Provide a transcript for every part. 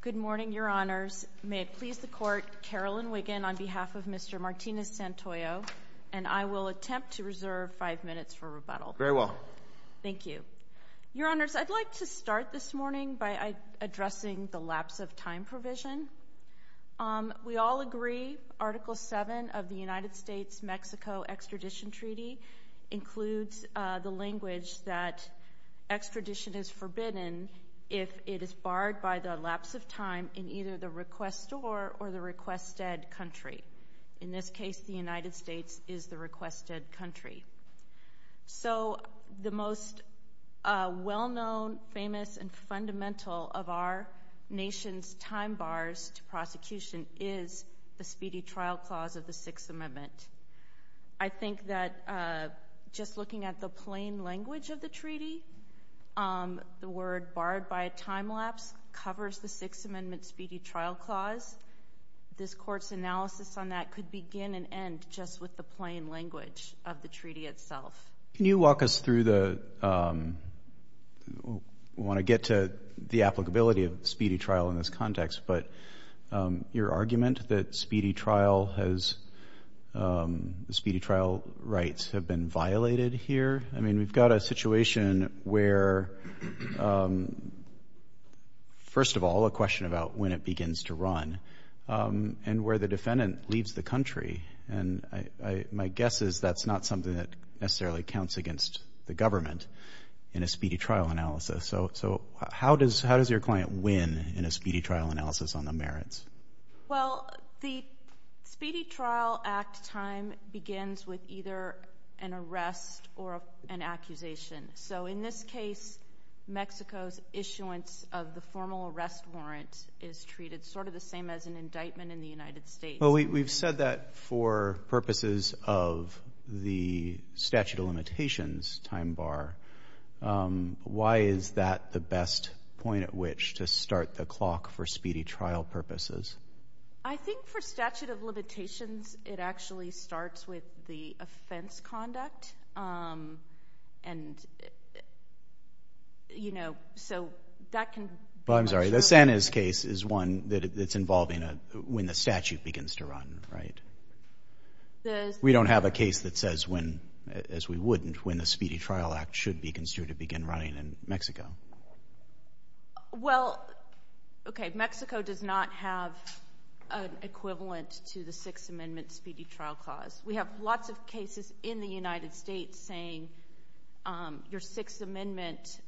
Good morning, Your Honors. May it please the Court, Carolyn Wiggin on behalf of Mr. Martinez Santoyo, and I will attempt to reserve five minutes for rebuttal. Very well. Thank you. Your Honors, I'd like to start this morning by addressing the lapse of time provision. We all agree Article VII of the United States-Mexico Extradition Treaty includes the language that extradition is forbidden if it is barred by the lapse of time in either the requestor or the requested country. In this case, the United States is the requested country. So the most well-known, famous, and fundamental of our nation's time bars to prosecution is the Speedy Trial Clause of the Sixth Amendment. I think that just looking at the plain language of the treaty, the word barred by a time lapse covers the Sixth Amendment Speedy Trial Clause. This Court's analysis on that could begin and end just with the plain language of the treaty itself. Can you walk us through the—we want to get to the applicability of Speedy Trial in this context, but your argument that Speedy Trial has—Speedy Trial rights have been violated here? I mean, we've got a situation where, first of all, a question about when it begins to run, and where the defendant leaves the country. And my guess is that's not something that necessarily counts against the government in a Speedy Trial analysis. So how does your client win in a Speedy Trial analysis on the merits? Well, the Speedy Trial Act time begins with either an arrest or an accusation. So in this case, Mexico's issuance of the formal arrest warrant is treated sort of the same as an indictment in the United States. Well, we've said that for purposes of the statute of limitations time bar. Why is that the best point at which to start the clock for Speedy Trial purposes? I think for statute of limitations, it actually starts with the offense conduct. And, you know, so that can— Well, I'm sorry. The Sanchez case is one that's involving when the statute begins to run, right? We don't have a case that says when, as we wouldn't, when the Speedy Trial Act should be considered to begin running in Mexico. Well, okay. Mexico does not have an equivalent to the Sixth Amendment Speedy Trial clause. We have lots of cases in the United States saying your Sixth Amendment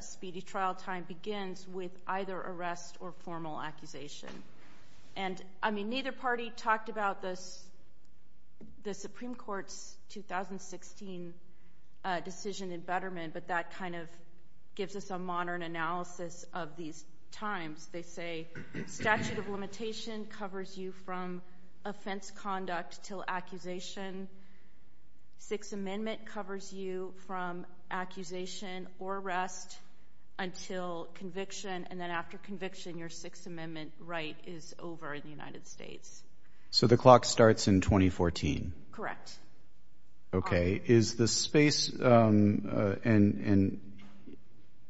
Speedy Trial time begins with either arrest or formal accusation. And, I mean, neither party talked about the Supreme Court's 2016 decision in Betterment, but that kind of gives us a modern analysis of these times. They say statute of limitation covers you from offense conduct till accusation. Sixth Amendment covers you from accusation or arrest until conviction. And then after conviction, your Sixth Amendment right is over in the United States. So the clock starts in 2014? Correct. Is the space—and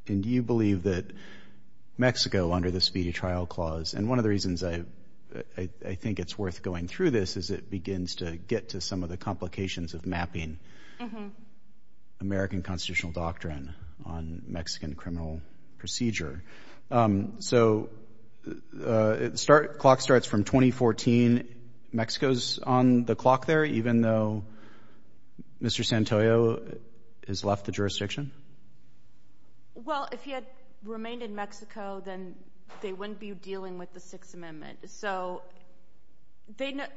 do you believe that Mexico, under the Speedy Trial clause—and one of the reasons I think it's worth going through this is it begins to get to some of the complications of mapping American constitutional doctrine on Mexican criminal procedure. So the clock starts from 2014. Mexico's on the clock there, even though Mr. Santoyo has left the jurisdiction? Well, if he had remained in Mexico, then they wouldn't be dealing with the Sixth Amendment. So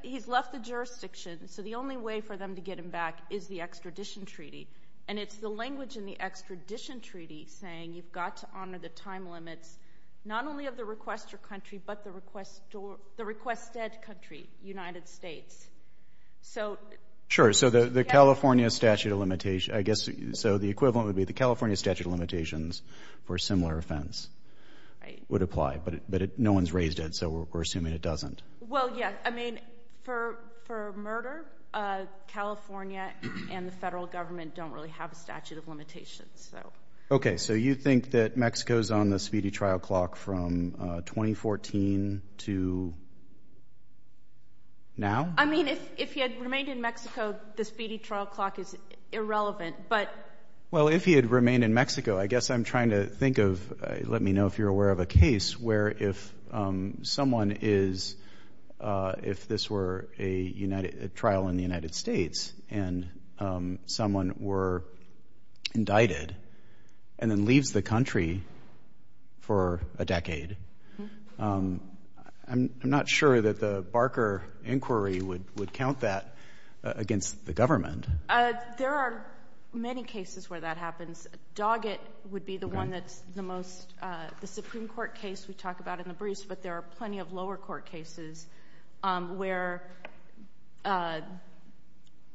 he's left the jurisdiction, so the only way for them to get him back is the extradition treaty. And it's the language in the extradition treaty saying you've got to honor the time limits not only of the requestor country, but the requested country, United States. Sure. So the California statute of limitation. So the equivalent would be the California statute of limitations for a similar offense would apply. But no one's raised it, so we're assuming it doesn't. Well, yeah. I mean, for murder, California and the federal government don't really have a statute of limitations. Okay. So you think that Mexico's on the Speedy Trial clock from 2014 to now? I mean, if he had remained in Mexico, the Speedy Trial clock is irrelevant. Well, if he had remained in Mexico, I guess I'm trying to think of, let me know if you're aware of a case where if someone is, if this were a trial in the United States and someone were indicted and then leaves the country for a decade, I'm not sure that the Barker inquiry would count that against the government. There are many cases where that happens. Doggett would be the one that's the most, the Supreme Court case we talk about in the briefs, but there are plenty of lower court cases where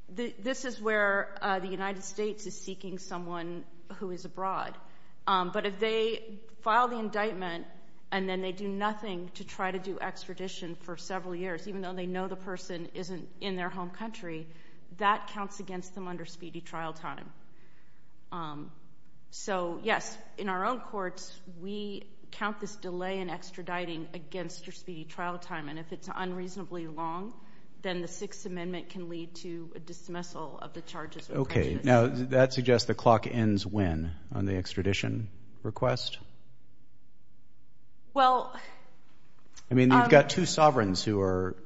this is where the United States is seeking someone who is abroad. But if they file the indictment and then they do nothing to try to do extradition for several years, even though they know the person isn't in their home country, that counts against them under Speedy Trial time. So, yes, in our own courts, we count this delay in extraditing against your Speedy Trial time, and if it's unreasonably long, then the Sixth Amendment can lead to a dismissal of the charges. Okay. Now, that suggests the clock ends when on the extradition request? Well— I mean, you've got two sovereigns who are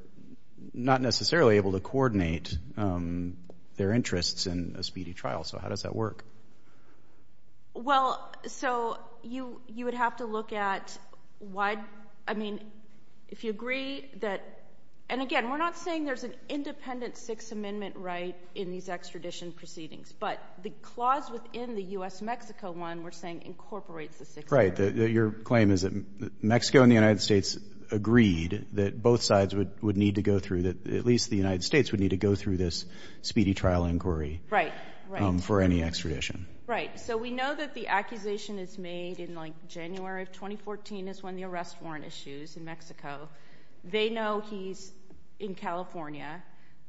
not necessarily able to coordinate their interests in a Speedy Trial, so how does that work? Well, so you would have to look at why—I mean, if you agree that— And again, we're not saying there's an independent Sixth Amendment right in these extradition proceedings, but the clause within the U.S.-Mexico one we're saying incorporates the Sixth Amendment. Right. Your claim is that Mexico and the United States agreed that both sides would need to go through, that at least the United States would need to go through this Speedy Trial inquiry— Right, right. —for any extradition. Right. So we know that the accusation is made in, like, January of 2014 is when the arrest warrant issues in Mexico. They know he's in California,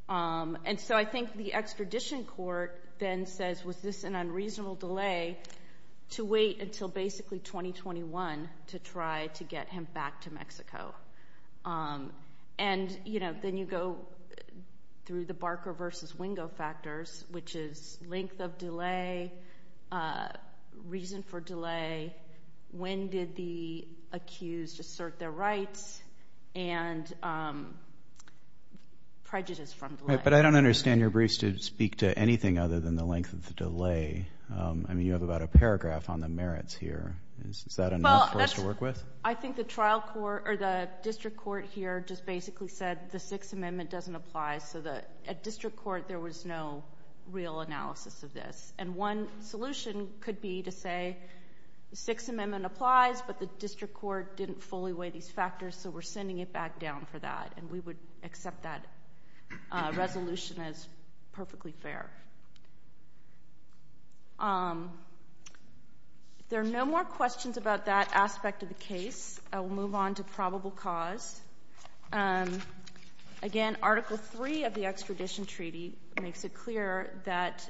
and so I think the extradition court then says, was this an unreasonable delay to wait until basically 2021 to try to get him back to Mexico? And, you know, then you go through the Barker v. Wingo factors, which is length of delay, reason for delay, when did the accused assert their rights, and prejudice from delay. But I don't understand your briefs to speak to anything other than the length of the delay. I mean, you have about a paragraph on the merits here. Is that enough for us to work with? I think the trial court—or the district court here just basically said the Sixth Amendment doesn't apply, so at district court there was no real analysis of this. And one solution could be to say the Sixth Amendment applies, but the district court didn't fully weigh these factors, so we're sending it back down for that, and we would accept that resolution as perfectly fair. If there are no more questions about that aspect of the case, I will move on to probable cause. Again, Article III of the Extradition Treaty makes it clear that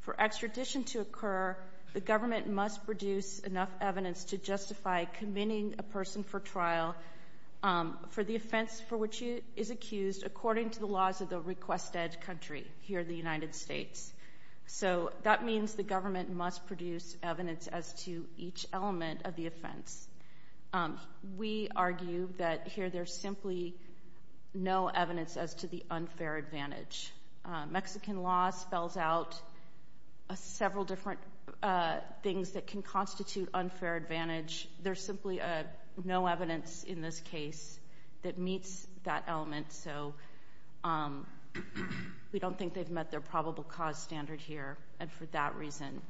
for extradition to occur, the government must produce enough evidence to justify committing a person for trial for the offense for which he is accused according to the laws of the request-ed country here in the United States. So that means the government must produce evidence as to each element of the offense. We argue that here there's simply no evidence as to the unfair advantage. Mexican law spells out several different things that can constitute unfair advantage. There's simply no evidence in this case that meets that element, so we don't think they've met their probable cause standard here, and for that reason,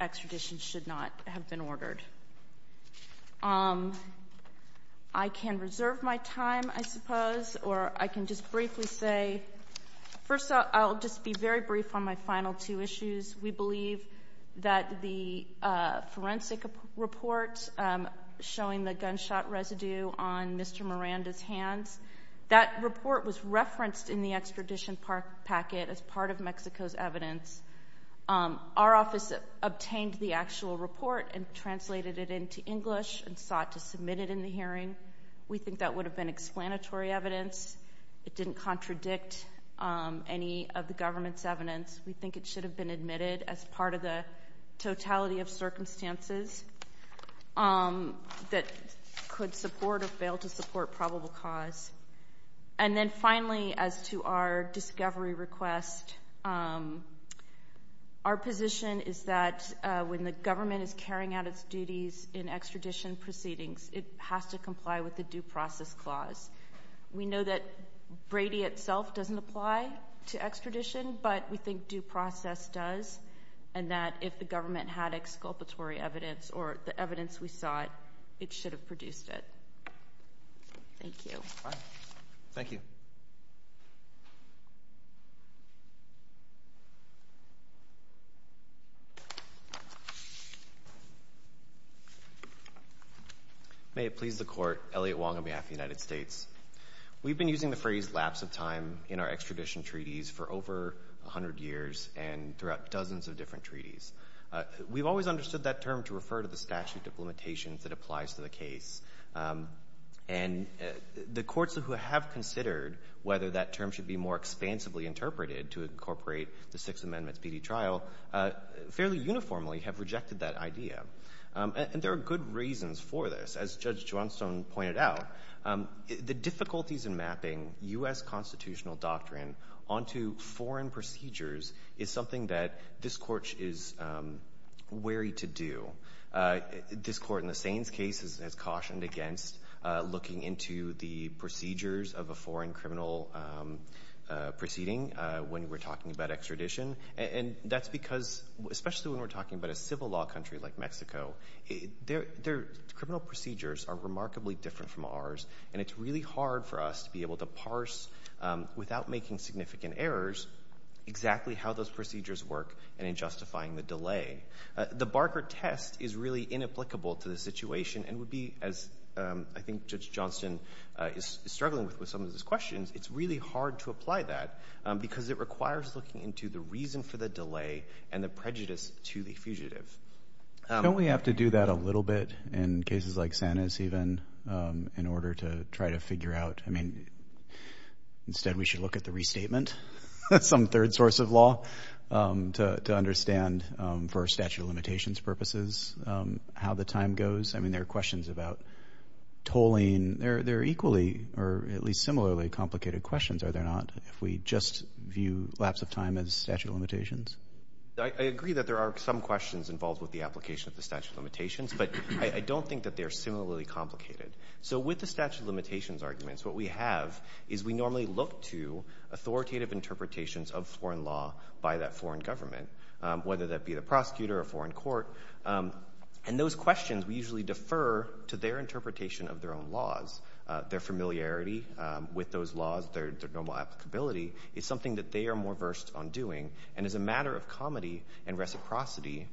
extradition should not have been ordered. I can reserve my time, I suppose, or I can just briefly say, first, I'll just be very brief on my final two issues. We believe that the forensic report showing the gunshot residue on Mr. Miranda's hands, that report was referenced in the extradition packet as part of Mexico's evidence. Our office obtained the actual report and translated it into English and sought to submit it in the hearing. We think that would have been explanatory evidence. It didn't contradict any of the government's evidence. We think it should have been admitted as part of the totality of circumstances that could support or fail to support probable cause. And then finally, as to our discovery request, our position is that when the government is carrying out its duties in extradition proceedings, it has to comply with the due process clause. We know that Brady itself doesn't apply to extradition, but we think due process does, and that if the government had exculpatory evidence or the evidence we sought, it should have produced it. Thank you. Thank you. May it please the Court, Elliot Wong on behalf of the United States. We've been using the phrase lapse of time in our extradition treaties for over 100 years and throughout dozens of different treaties. We've always understood that term to refer to the statute of limitations that applies to the case. And the courts who have considered whether that term should be more expansively interpreted to incorporate the Sixth Amendment's PD trial fairly uniformly have rejected that idea. And there are good reasons for this. As Judge Johnstone pointed out, the difficulties in mapping U.S. constitutional doctrine onto foreign procedures is something that this Court is wary to do. This Court in the Saines case has cautioned against looking into the procedures of a foreign criminal proceeding when we're talking about extradition. And that's because, especially when we're talking about a civil law country like Mexico, their criminal procedures are remarkably different from ours. And it's really hard for us to be able to parse, without making significant errors, exactly how those procedures work and in justifying the delay. The Barker test is really inapplicable to the situation and would be, as I think Judge Johnstone is struggling with with some of these questions, it's really hard to apply that because it requires looking into the reason for the delay and the prejudice to the fugitive. Don't we have to do that a little bit in cases like Saines even in order to try to figure out, I mean, instead we should look at the restatement? That's some third source of law to understand for statute of limitations purposes how the time goes. I mean, there are questions about tolling. They're equally or at least similarly complicated questions, are there not, if we just view lapse of time as statute of limitations? I agree that there are some questions involved with the application of the statute of limitations, but I don't think that they're similarly complicated. So with the statute of limitations arguments, what we have is we normally look to authoritative interpretations of foreign law by that foreign government, whether that be the prosecutor or foreign court. And those questions, we usually defer to their interpretation of their own laws, their familiarity with those laws, their normal applicability. It's something that they are more versed on doing. And as a matter of comedy and reciprocity,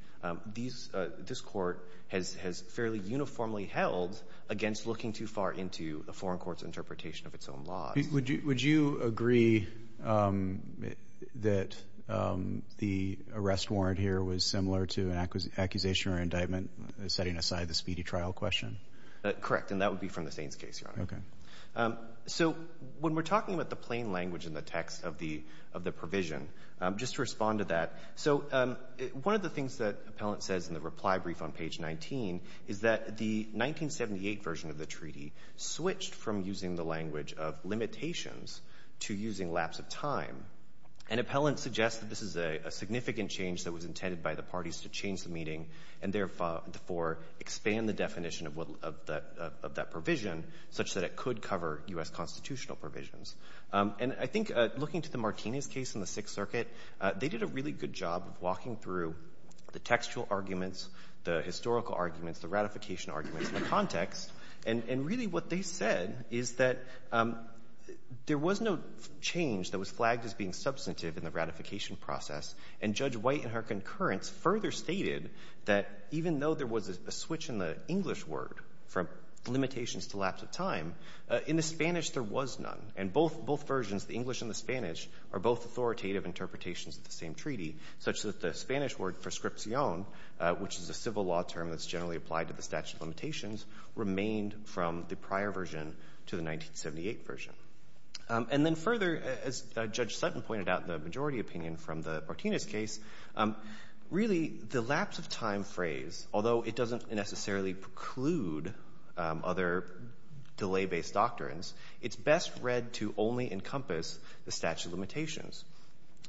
this court has fairly uniformly held against looking too far into the foreign court's interpretation of its own laws. Would you agree that the arrest warrant here was similar to an accusation or indictment, setting aside the speedy trial question? Correct, and that would be from the Saines case, Your Honor. Okay. So when we're talking about the plain language in the text of the provision, just to respond to that, so one of the things that Appellant says in the reply brief on page 19 is that the 1978 version of the treaty switched from using the language of limitations to using lapse of time. And Appellant suggests that this is a significant change that was intended by the parties to change the meeting and, therefore, expand the definition of that provision such that it could cover U.S. constitutional provisions. And I think looking to the Martinez case in the Sixth Circuit, they did a really good job of walking through the textual arguments, the historical arguments, the ratification arguments in the context. And really what they said is that there was no change that was flagged as being substantive in the ratification process. And Judge White, in her concurrence, further stated that even though there was a switch in the English word from limitations to lapse of time, in the Spanish there was none. And both versions, the English and the Spanish, are both authoritative interpretations of the same treaty, such that the Spanish word prescripción, which is a civil law term that's generally applied to the statute of limitations, remained from the prior version to the 1978 version. And then further, as Judge Sutton pointed out in the majority opinion from the Martinez case, really the lapse of time phrase, although it doesn't necessarily preclude other delay-based doctrines, it's best read to only encompass the statute of limitations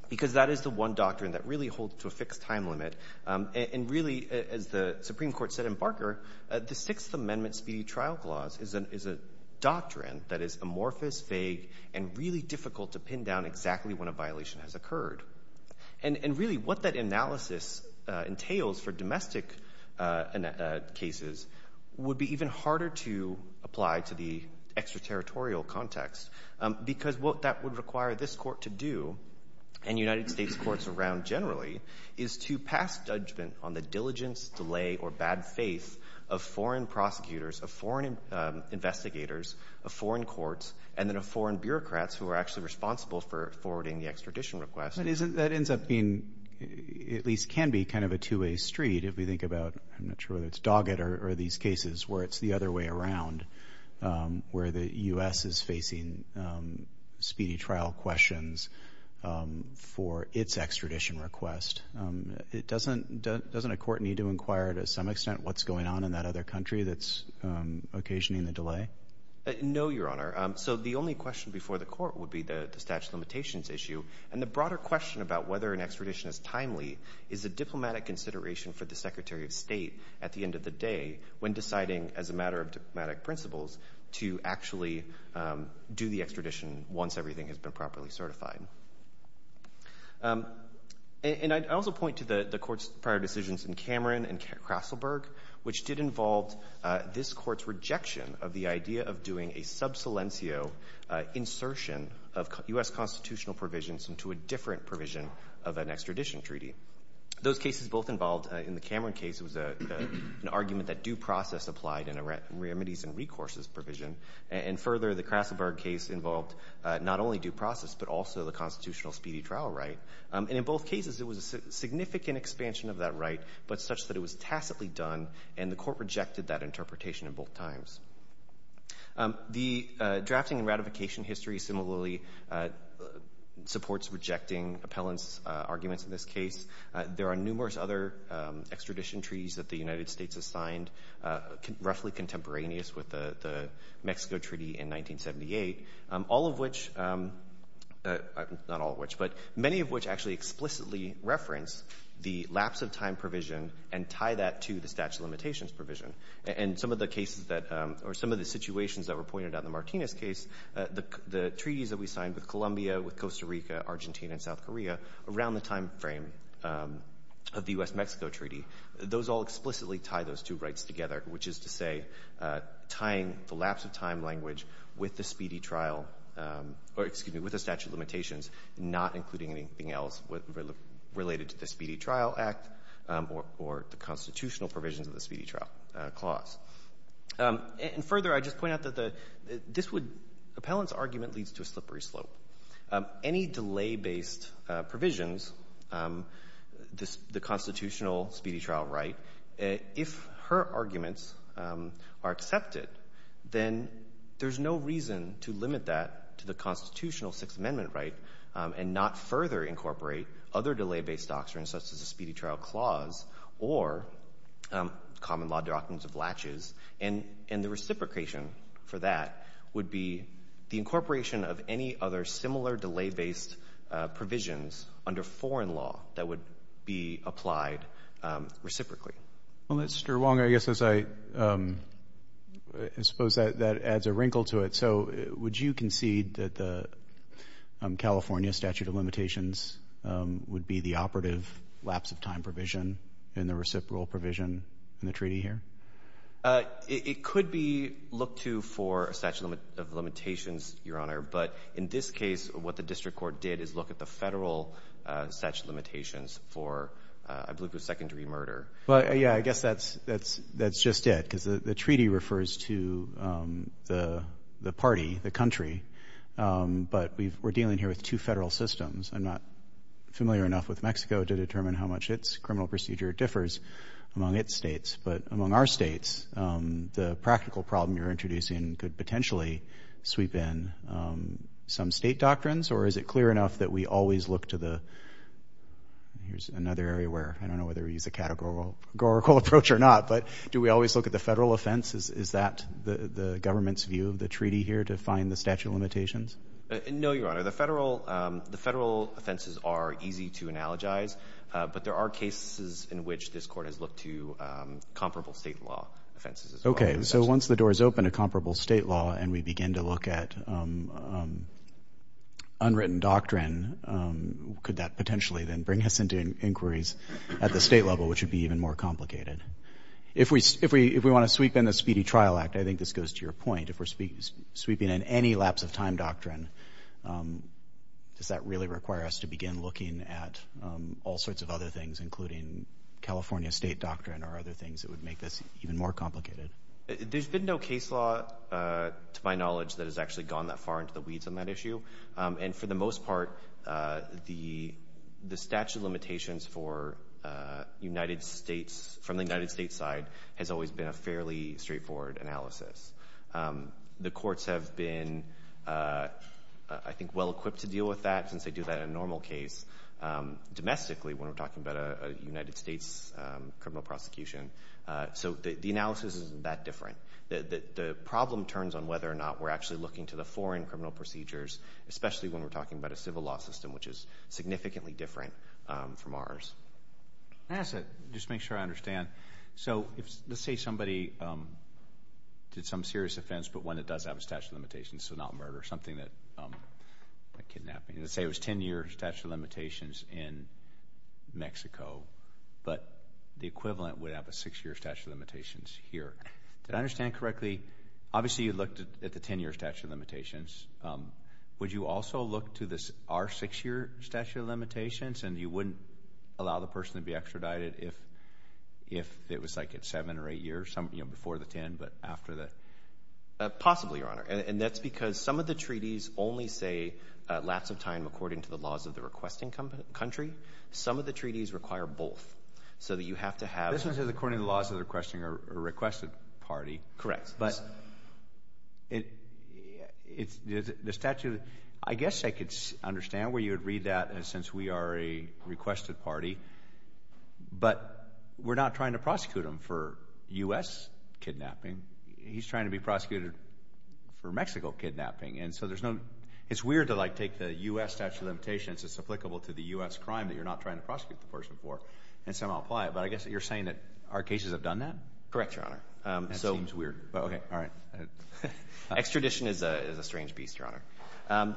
because that is the one doctrine that really holds to a fixed time limit. And really, as the Supreme Court said in Barker, the Sixth Amendment Speedy Trial Clause is a doctrine that is amorphous, vague, and really difficult to pin down exactly when a violation has occurred. And really what that analysis entails for domestic cases would be even harder to apply to the extraterritorial context because what that would require this court to do, and United States courts around generally, is to pass judgment on the diligence, delay, or bad faith of foreign prosecutors, of foreign investigators, of foreign courts, and then of foreign bureaucrats who are actually responsible for forwarding the extradition request. But isn't that ends up being, at least can be, kind of a two-way street if we think about, I'm not sure whether it's Doggett or these cases where it's the other way around, where the U.S. is facing speedy trial questions for its extradition request. Doesn't a court need to inquire to some extent what's going on in that other country that's occasioning the delay? No, Your Honor. So the only question before the court would be the statute of limitations issue. And the broader question about whether an extradition is timely is a diplomatic consideration for the Secretary of State at the end of the day when deciding as a matter of diplomatic principles to actually do the extradition once everything has been properly certified. And I'd also point to the court's prior decisions in Cameron and Krasselberg, which did involve this court's rejection of the idea of doing a sub silencio insertion of U.S. constitutional provisions into a different provision of an extradition treaty. Those cases both involved in the Cameron case was an argument that due process applied in a remedies and recourses provision. And further, the Krasselberg case involved not only due process but also the constitutional speedy trial right. And in both cases, it was a significant expansion of that right, but such that it was tacitly done, and the court rejected that interpretation at both times. The drafting and ratification history similarly supports rejecting appellant's arguments in this case. There are numerous other extradition treaties that the United States has signed, roughly contemporaneous with the Mexico Treaty in 1978, all of which, not all of which, but many of which actually explicitly reference the lapse of time provision and tie that to the statute of limitations provision. And some of the cases that or some of the situations that were pointed out in the Martinez case, the treaties that we signed with Colombia, with Costa Rica, Argentina, and South Korea, around the timeframe of the U.S.-Mexico Treaty, those all explicitly tie those two rights together, which is to say tying the lapse of time language with the speedy trial or, excuse me, with the statute of limitations, not including anything else related to the Speedy Trial Act or the constitutional provisions of the Speedy Trial Clause. And further, I'd just point out that the — this would — appellant's argument leads to a slippery slope. Any delay-based provisions, the constitutional speedy trial right, if her arguments are accepted, then there's no reason to limit that to the constitutional Sixth Amendment right and not further incorporate other delay-based doctrines, such as the Speedy Trial Clause or common law doctrines of latches. And the reciprocation for that would be the incorporation of any other similar delay-based provisions under foreign law that would be applied reciprocally. Well, Mr. Wong, I guess as I suppose that adds a wrinkle to it, so would you concede that the California statute of limitations would be the operative lapse of time provision in the reciprocal provision in the treaty here? It could be looked to for a statute of limitations, Your Honor, but in this case what the district court did is look at the Federal statute of limitations for, I believe, a secondary murder. Well, yeah, I guess that's just it because the treaty refers to the party, the country, but we're dealing here with two federal systems. I'm not familiar enough with Mexico to determine how much its criminal procedure differs among its states, but among our states the practical problem you're introducing could potentially sweep in some state doctrines, or is it clear enough that we always look to the — here's another area where I don't know whether we use a categorical approach or not, but do we always look at the federal offense? Is that the government's view of the treaty here to find the statute of limitations? No, Your Honor. The federal offenses are easy to analogize, but there are cases in which this court has looked to comparable state law offenses as well. Okay. So once the door is open to comparable state law and we begin to look at unwritten doctrine, could that potentially then bring us into inquiries at the state level, which would be even more complicated? If we want to sweep in the Speedy Trial Act, I think this goes to your point. If we're sweeping in any lapse of time doctrine, does that really require us to begin looking at all sorts of other things, including California state doctrine or other things that would make this even more complicated? There's been no case law, to my knowledge, that has actually gone that far into the weeds on that issue, and for the most part the statute of limitations from the United States side has always been a fairly straightforward analysis. The courts have been, I think, well-equipped to deal with that, since they do that in a normal case domestically when we're talking about a United States criminal prosecution. So the analysis isn't that different. The problem turns on whether or not we're actually looking to the foreign criminal procedures, especially when we're talking about a civil law system, which is significantly different from ours. Can I ask that, just to make sure I understand? So let's say somebody did some serious offense, but one that does have a statute of limitations, so not murder, something like kidnapping. Let's say it was 10-year statute of limitations in Mexico, but the equivalent would have a 6-year statute of limitations here. Did I understand correctly? Obviously, you looked at the 10-year statute of limitations. Would you also look to our 6-year statute of limitations, and you wouldn't allow the person to be extradited if it was, like, at 7 or 8 years, before the 10, but after that? Possibly, Your Honor, and that's because some of the treaties only say, lots of time according to the laws of the requesting country. Some of the treaties require both, so that you have to have— This one says according to the laws of the requesting or requested party. Correct. But the statute, I guess I could understand where you would read that, since we are a requested party, but we're not trying to prosecute him for U.S. kidnapping. He's trying to be prosecuted for Mexico kidnapping, and so there's no— It's weird to, like, take the U.S. statute of limitations as applicable to the U.S. crime that you're not trying to prosecute the person for and somehow apply it, but I guess you're saying that our cases have done that? Correct, Your Honor. That seems weird. Okay. All right. Extradition is a strange beast, Your Honor.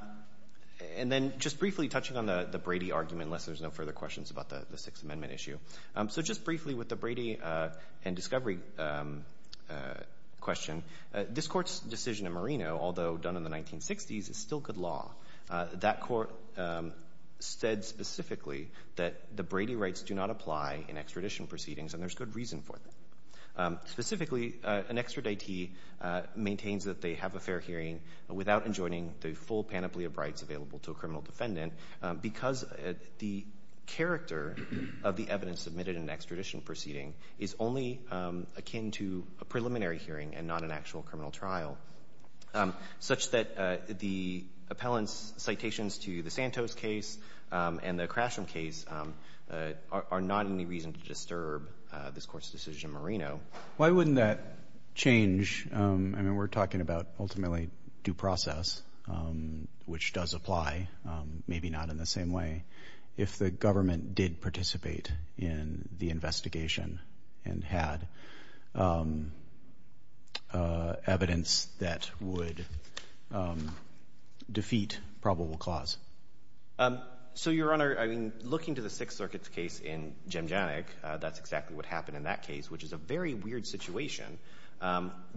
And then just briefly, touching on the Brady argument, unless there's no further questions about the Sixth Amendment issue, so just briefly with the Brady and Discovery question, this Court's decision in Marino, although done in the 1960s, is still good law. That court said specifically that the Brady rights do not apply in extradition proceedings, and there's good reason for that. Specifically, an extraditee maintains that they have a fair hearing without enjoining the full panoply of rights available to a criminal defendant because the character of the evidence submitted in an extradition proceeding is only akin to a preliminary hearing and not an actual criminal trial, such that the appellant's citations to the Santos case and the Crasham case are not any reason to disturb this Court's decision in Marino. Why wouldn't that change? I mean, we're talking about ultimately due process, which does apply, maybe not in the same way. If the government did participate in the investigation and had evidence that would defeat probable cause. So, Your Honor, I mean, looking to the Sixth Circuit's case in Jemjanic, that's exactly what happened in that case, which is a very weird situation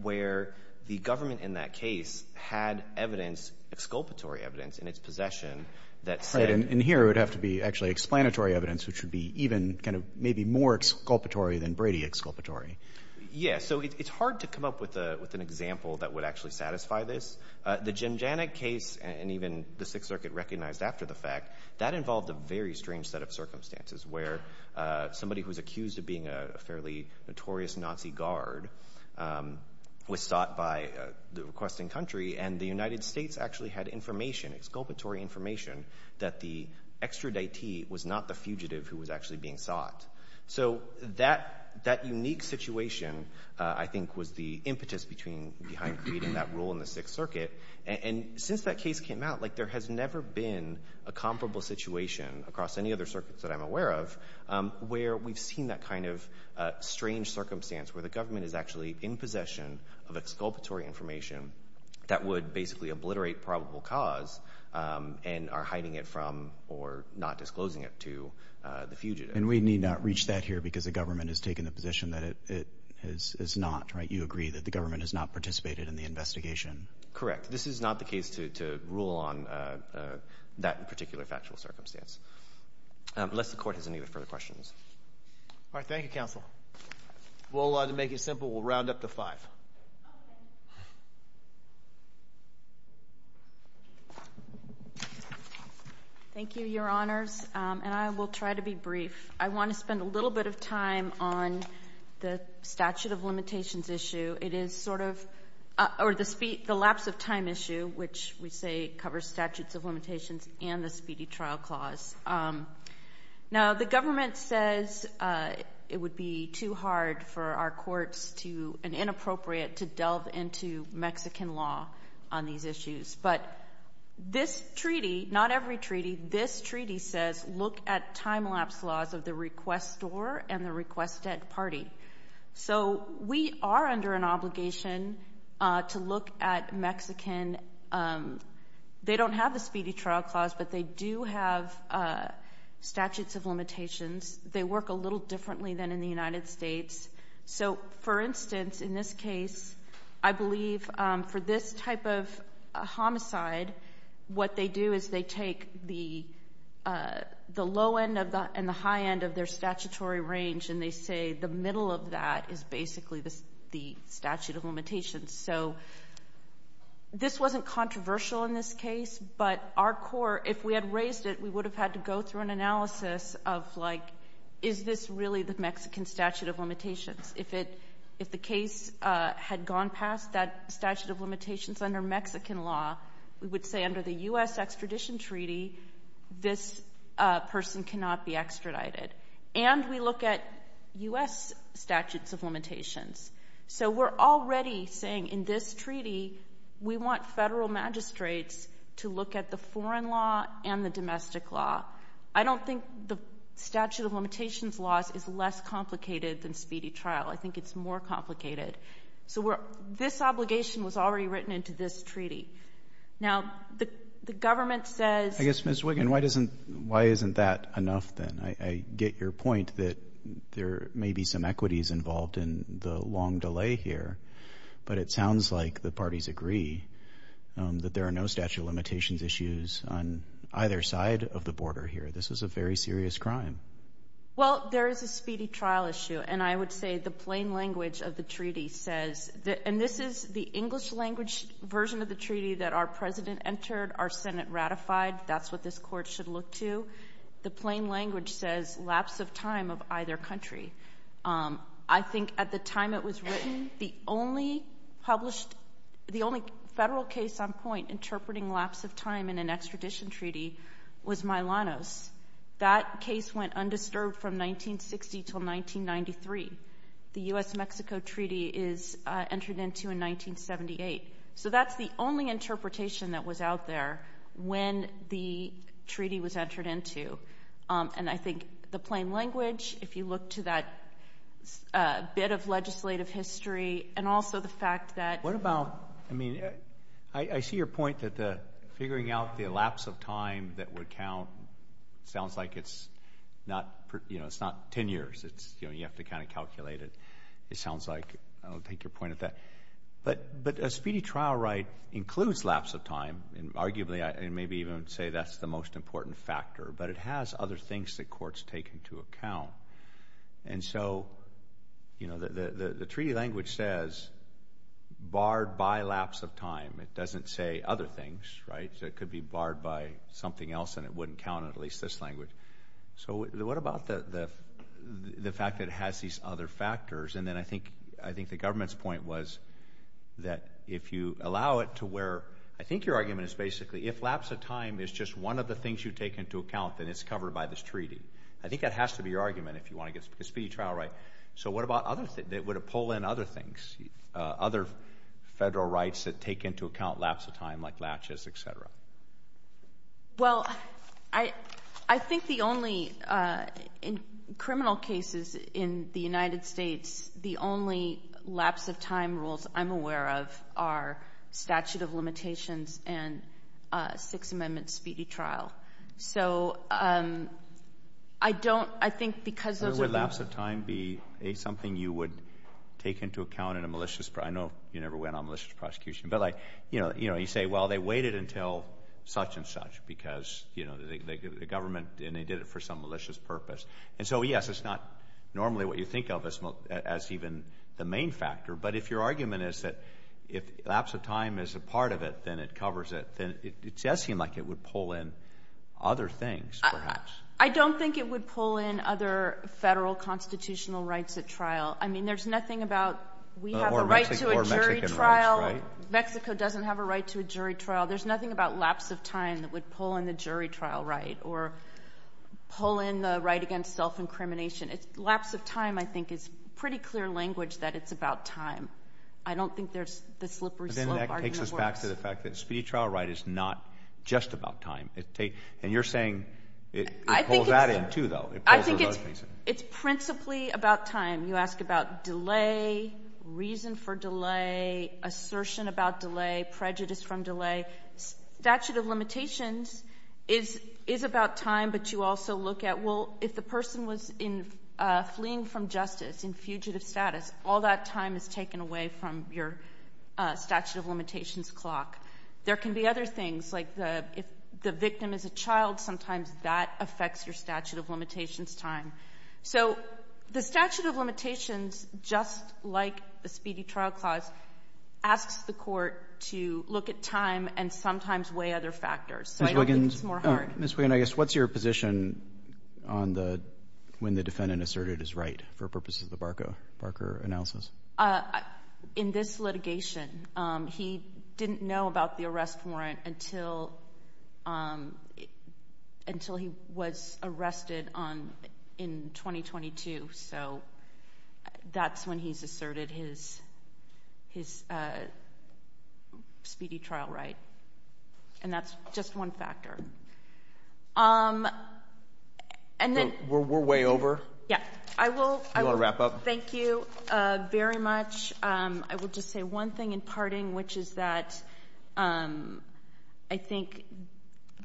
where the government in that case had evidence, exculpatory evidence, in its possession that said in here it would have to be actually explanatory evidence, which would be even kind of maybe more exculpatory than Brady exculpatory. Yeah, so it's hard to come up with an example that would actually satisfy this. The Jemjanic case and even the Sixth Circuit recognized after the fact, that involved a very strange set of circumstances where somebody who was accused of being a fairly notorious Nazi guard was sought by the requesting country, and the United States actually had information, exculpatory information, that the extraditee was not the fugitive who was actually being sought. So that unique situation, I think, was the impetus behind creating that rule in the Sixth Circuit. And since that case came out, there has never been a comparable situation across any other circuits that I'm aware of where we've seen that kind of strange circumstance where the government is actually in possession of exculpatory information that would basically obliterate probable cause and are hiding it from or not disclosing it to the fugitive. And we need not reach that here because the government has taken the position that it has not, right? You agree that the government has not participated in the investigation. Correct. This is not the case to rule on that particular factual circumstance. Unless the court has any further questions. All right. Thank you, counsel. Well, to make it simple, we'll round up to five. Okay. Thank you, Your Honors. And I will try to be brief. I want to spend a little bit of time on the statute of limitations issue. It is sort of the lapse of time issue, which we say covers statutes of limitations and the speedy trial clause. Now, the government says it would be too hard for our courts and inappropriate to delve into Mexican law on these issues. But this treaty, not every treaty, this treaty says look at time lapse laws of the requestor and the requested party. So we are under an obligation to look at Mexican. They don't have the speedy trial clause, but they do have statutes of limitations. They work a little differently than in the United States. So, for instance, in this case, I believe for this type of homicide, what they do is they take the low end and the high end of their statutory range, and they say the middle of that is basically the statute of limitations. So this wasn't controversial in this case, but our court, if we had raised it, we would have had to go through an analysis of, like, is this really the Mexican statute of limitations? If the case had gone past that statute of limitations under Mexican law, we would say under the U.S. extradition treaty, this person cannot be extradited. And we look at U.S. statutes of limitations. So we're already saying in this treaty, we want federal magistrates to look at the foreign law and the domestic law. I don't think the statute of limitations laws is less complicated than speedy trial. I think it's more complicated. So this obligation was already written into this treaty. Now, the government says— I guess, Ms. Wiggin, why isn't that enough, then? I get your point that there may be some equities involved in the long delay here, but it sounds like the parties agree that there are no statute of limitations issues on either side of the border here. This is a very serious crime. Well, there is a speedy trial issue, and I would say the plain language of the treaty says— and this is the English-language version of the treaty that our president entered, our Senate ratified, that's what this Court should look to. The plain language says lapse of time of either country. I think at the time it was written, the only published— the only federal case on point interpreting lapse of time in an extradition treaty was Milano's. That case went undisturbed from 1960 until 1993. The U.S.-Mexico treaty is entered into in 1978. So that's the only interpretation that was out there when the treaty was entered into. And I think the plain language, if you look to that bit of legislative history, and also the fact that— What about—I mean, I see your point that figuring out the lapse of time that would count. It sounds like it's not 10 years. You have to kind of calculate it. It sounds like—I don't take your point at that. But a speedy trial right includes lapse of time. Arguably, and maybe even say that's the most important factor, but it has other things that courts take into account. And so, you know, the treaty language says barred by lapse of time. It doesn't say other things, right? It could be barred by something else, and it wouldn't count in at least this language. So what about the fact that it has these other factors? And then I think the government's point was that if you allow it to where— I think your argument is basically if lapse of time is just one of the things you take into account, then it's covered by this treaty. I think that has to be your argument if you want to get a speedy trial right. So what about other—would it pull in other things, other federal rights that take into account lapse of time like latches, et cetera? Well, I think the only—in criminal cases in the United States, the only lapse of time rules I'm aware of are statute of limitations and Sixth Amendment speedy trial. So I don't—I think because those are— Would lapse of time be, A, something you would take into account in a malicious— I know you never went on malicious prosecution, but, like, you know, you say, well, they waited until such and such because, you know, the government— and they did it for some malicious purpose. And so, yes, it's not normally what you think of as even the main factor. But if your argument is that if lapse of time is a part of it, then it covers it, then it does seem like it would pull in other things, perhaps. I don't think it would pull in other federal constitutional rights at trial. I mean, there's nothing about we have a right to a jury trial. Or Mexican rights, right? Mexico doesn't have a right to a jury trial. There's nothing about lapse of time that would pull in the jury trial right or pull in the right against self-incrimination. Lapse of time, I think, is pretty clear language that it's about time. I don't think there's the slippery slope argument works. Well, I'm going to go back to the fact that speedy trial right is not just about time. And you're saying it pulls that in, too, though. I think it's principally about time. You ask about delay, reason for delay, assertion about delay, prejudice from delay. Statute of limitations is about time, but you also look at, well, if the person was fleeing from justice in fugitive status, all that time is taken away from your statute of limitations clock. There can be other things, like if the victim is a child, sometimes that affects your statute of limitations time. So the statute of limitations, just like the speedy trial clause, asks the court to look at time and sometimes weigh other factors. So I don't think it's more hard. Ms. Wiggins, I guess, what's your position on the when the defendant asserted his right for purposes of the Barker analysis? In this litigation, he didn't know about the arrest warrant until he was arrested in 2022. So that's when he's asserted his speedy trial right. And that's just one factor. We're way over. Yeah. I will. Do you want to wrap up? Thank you very much. I will just say one thing in parting, which is that I think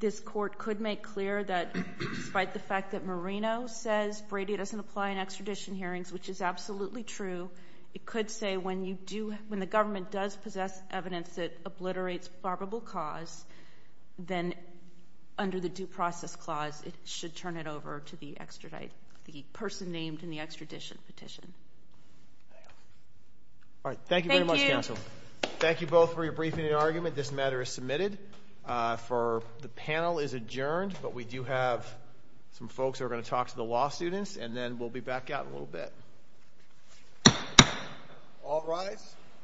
this court could make clear that, despite the fact that Marino says Brady doesn't apply in extradition hearings, which is absolutely true, it could say when you do, when the government does possess evidence that obliterates favorable cause, then under the due process clause, it should turn it over to the person named in the extradition petition. All right. Thank you very much, counsel. Thank you both for your briefing and argument. This matter is submitted. The panel is adjourned, but we do have some folks who are going to talk to the law students, and then we'll be back out in a little bit. All rise.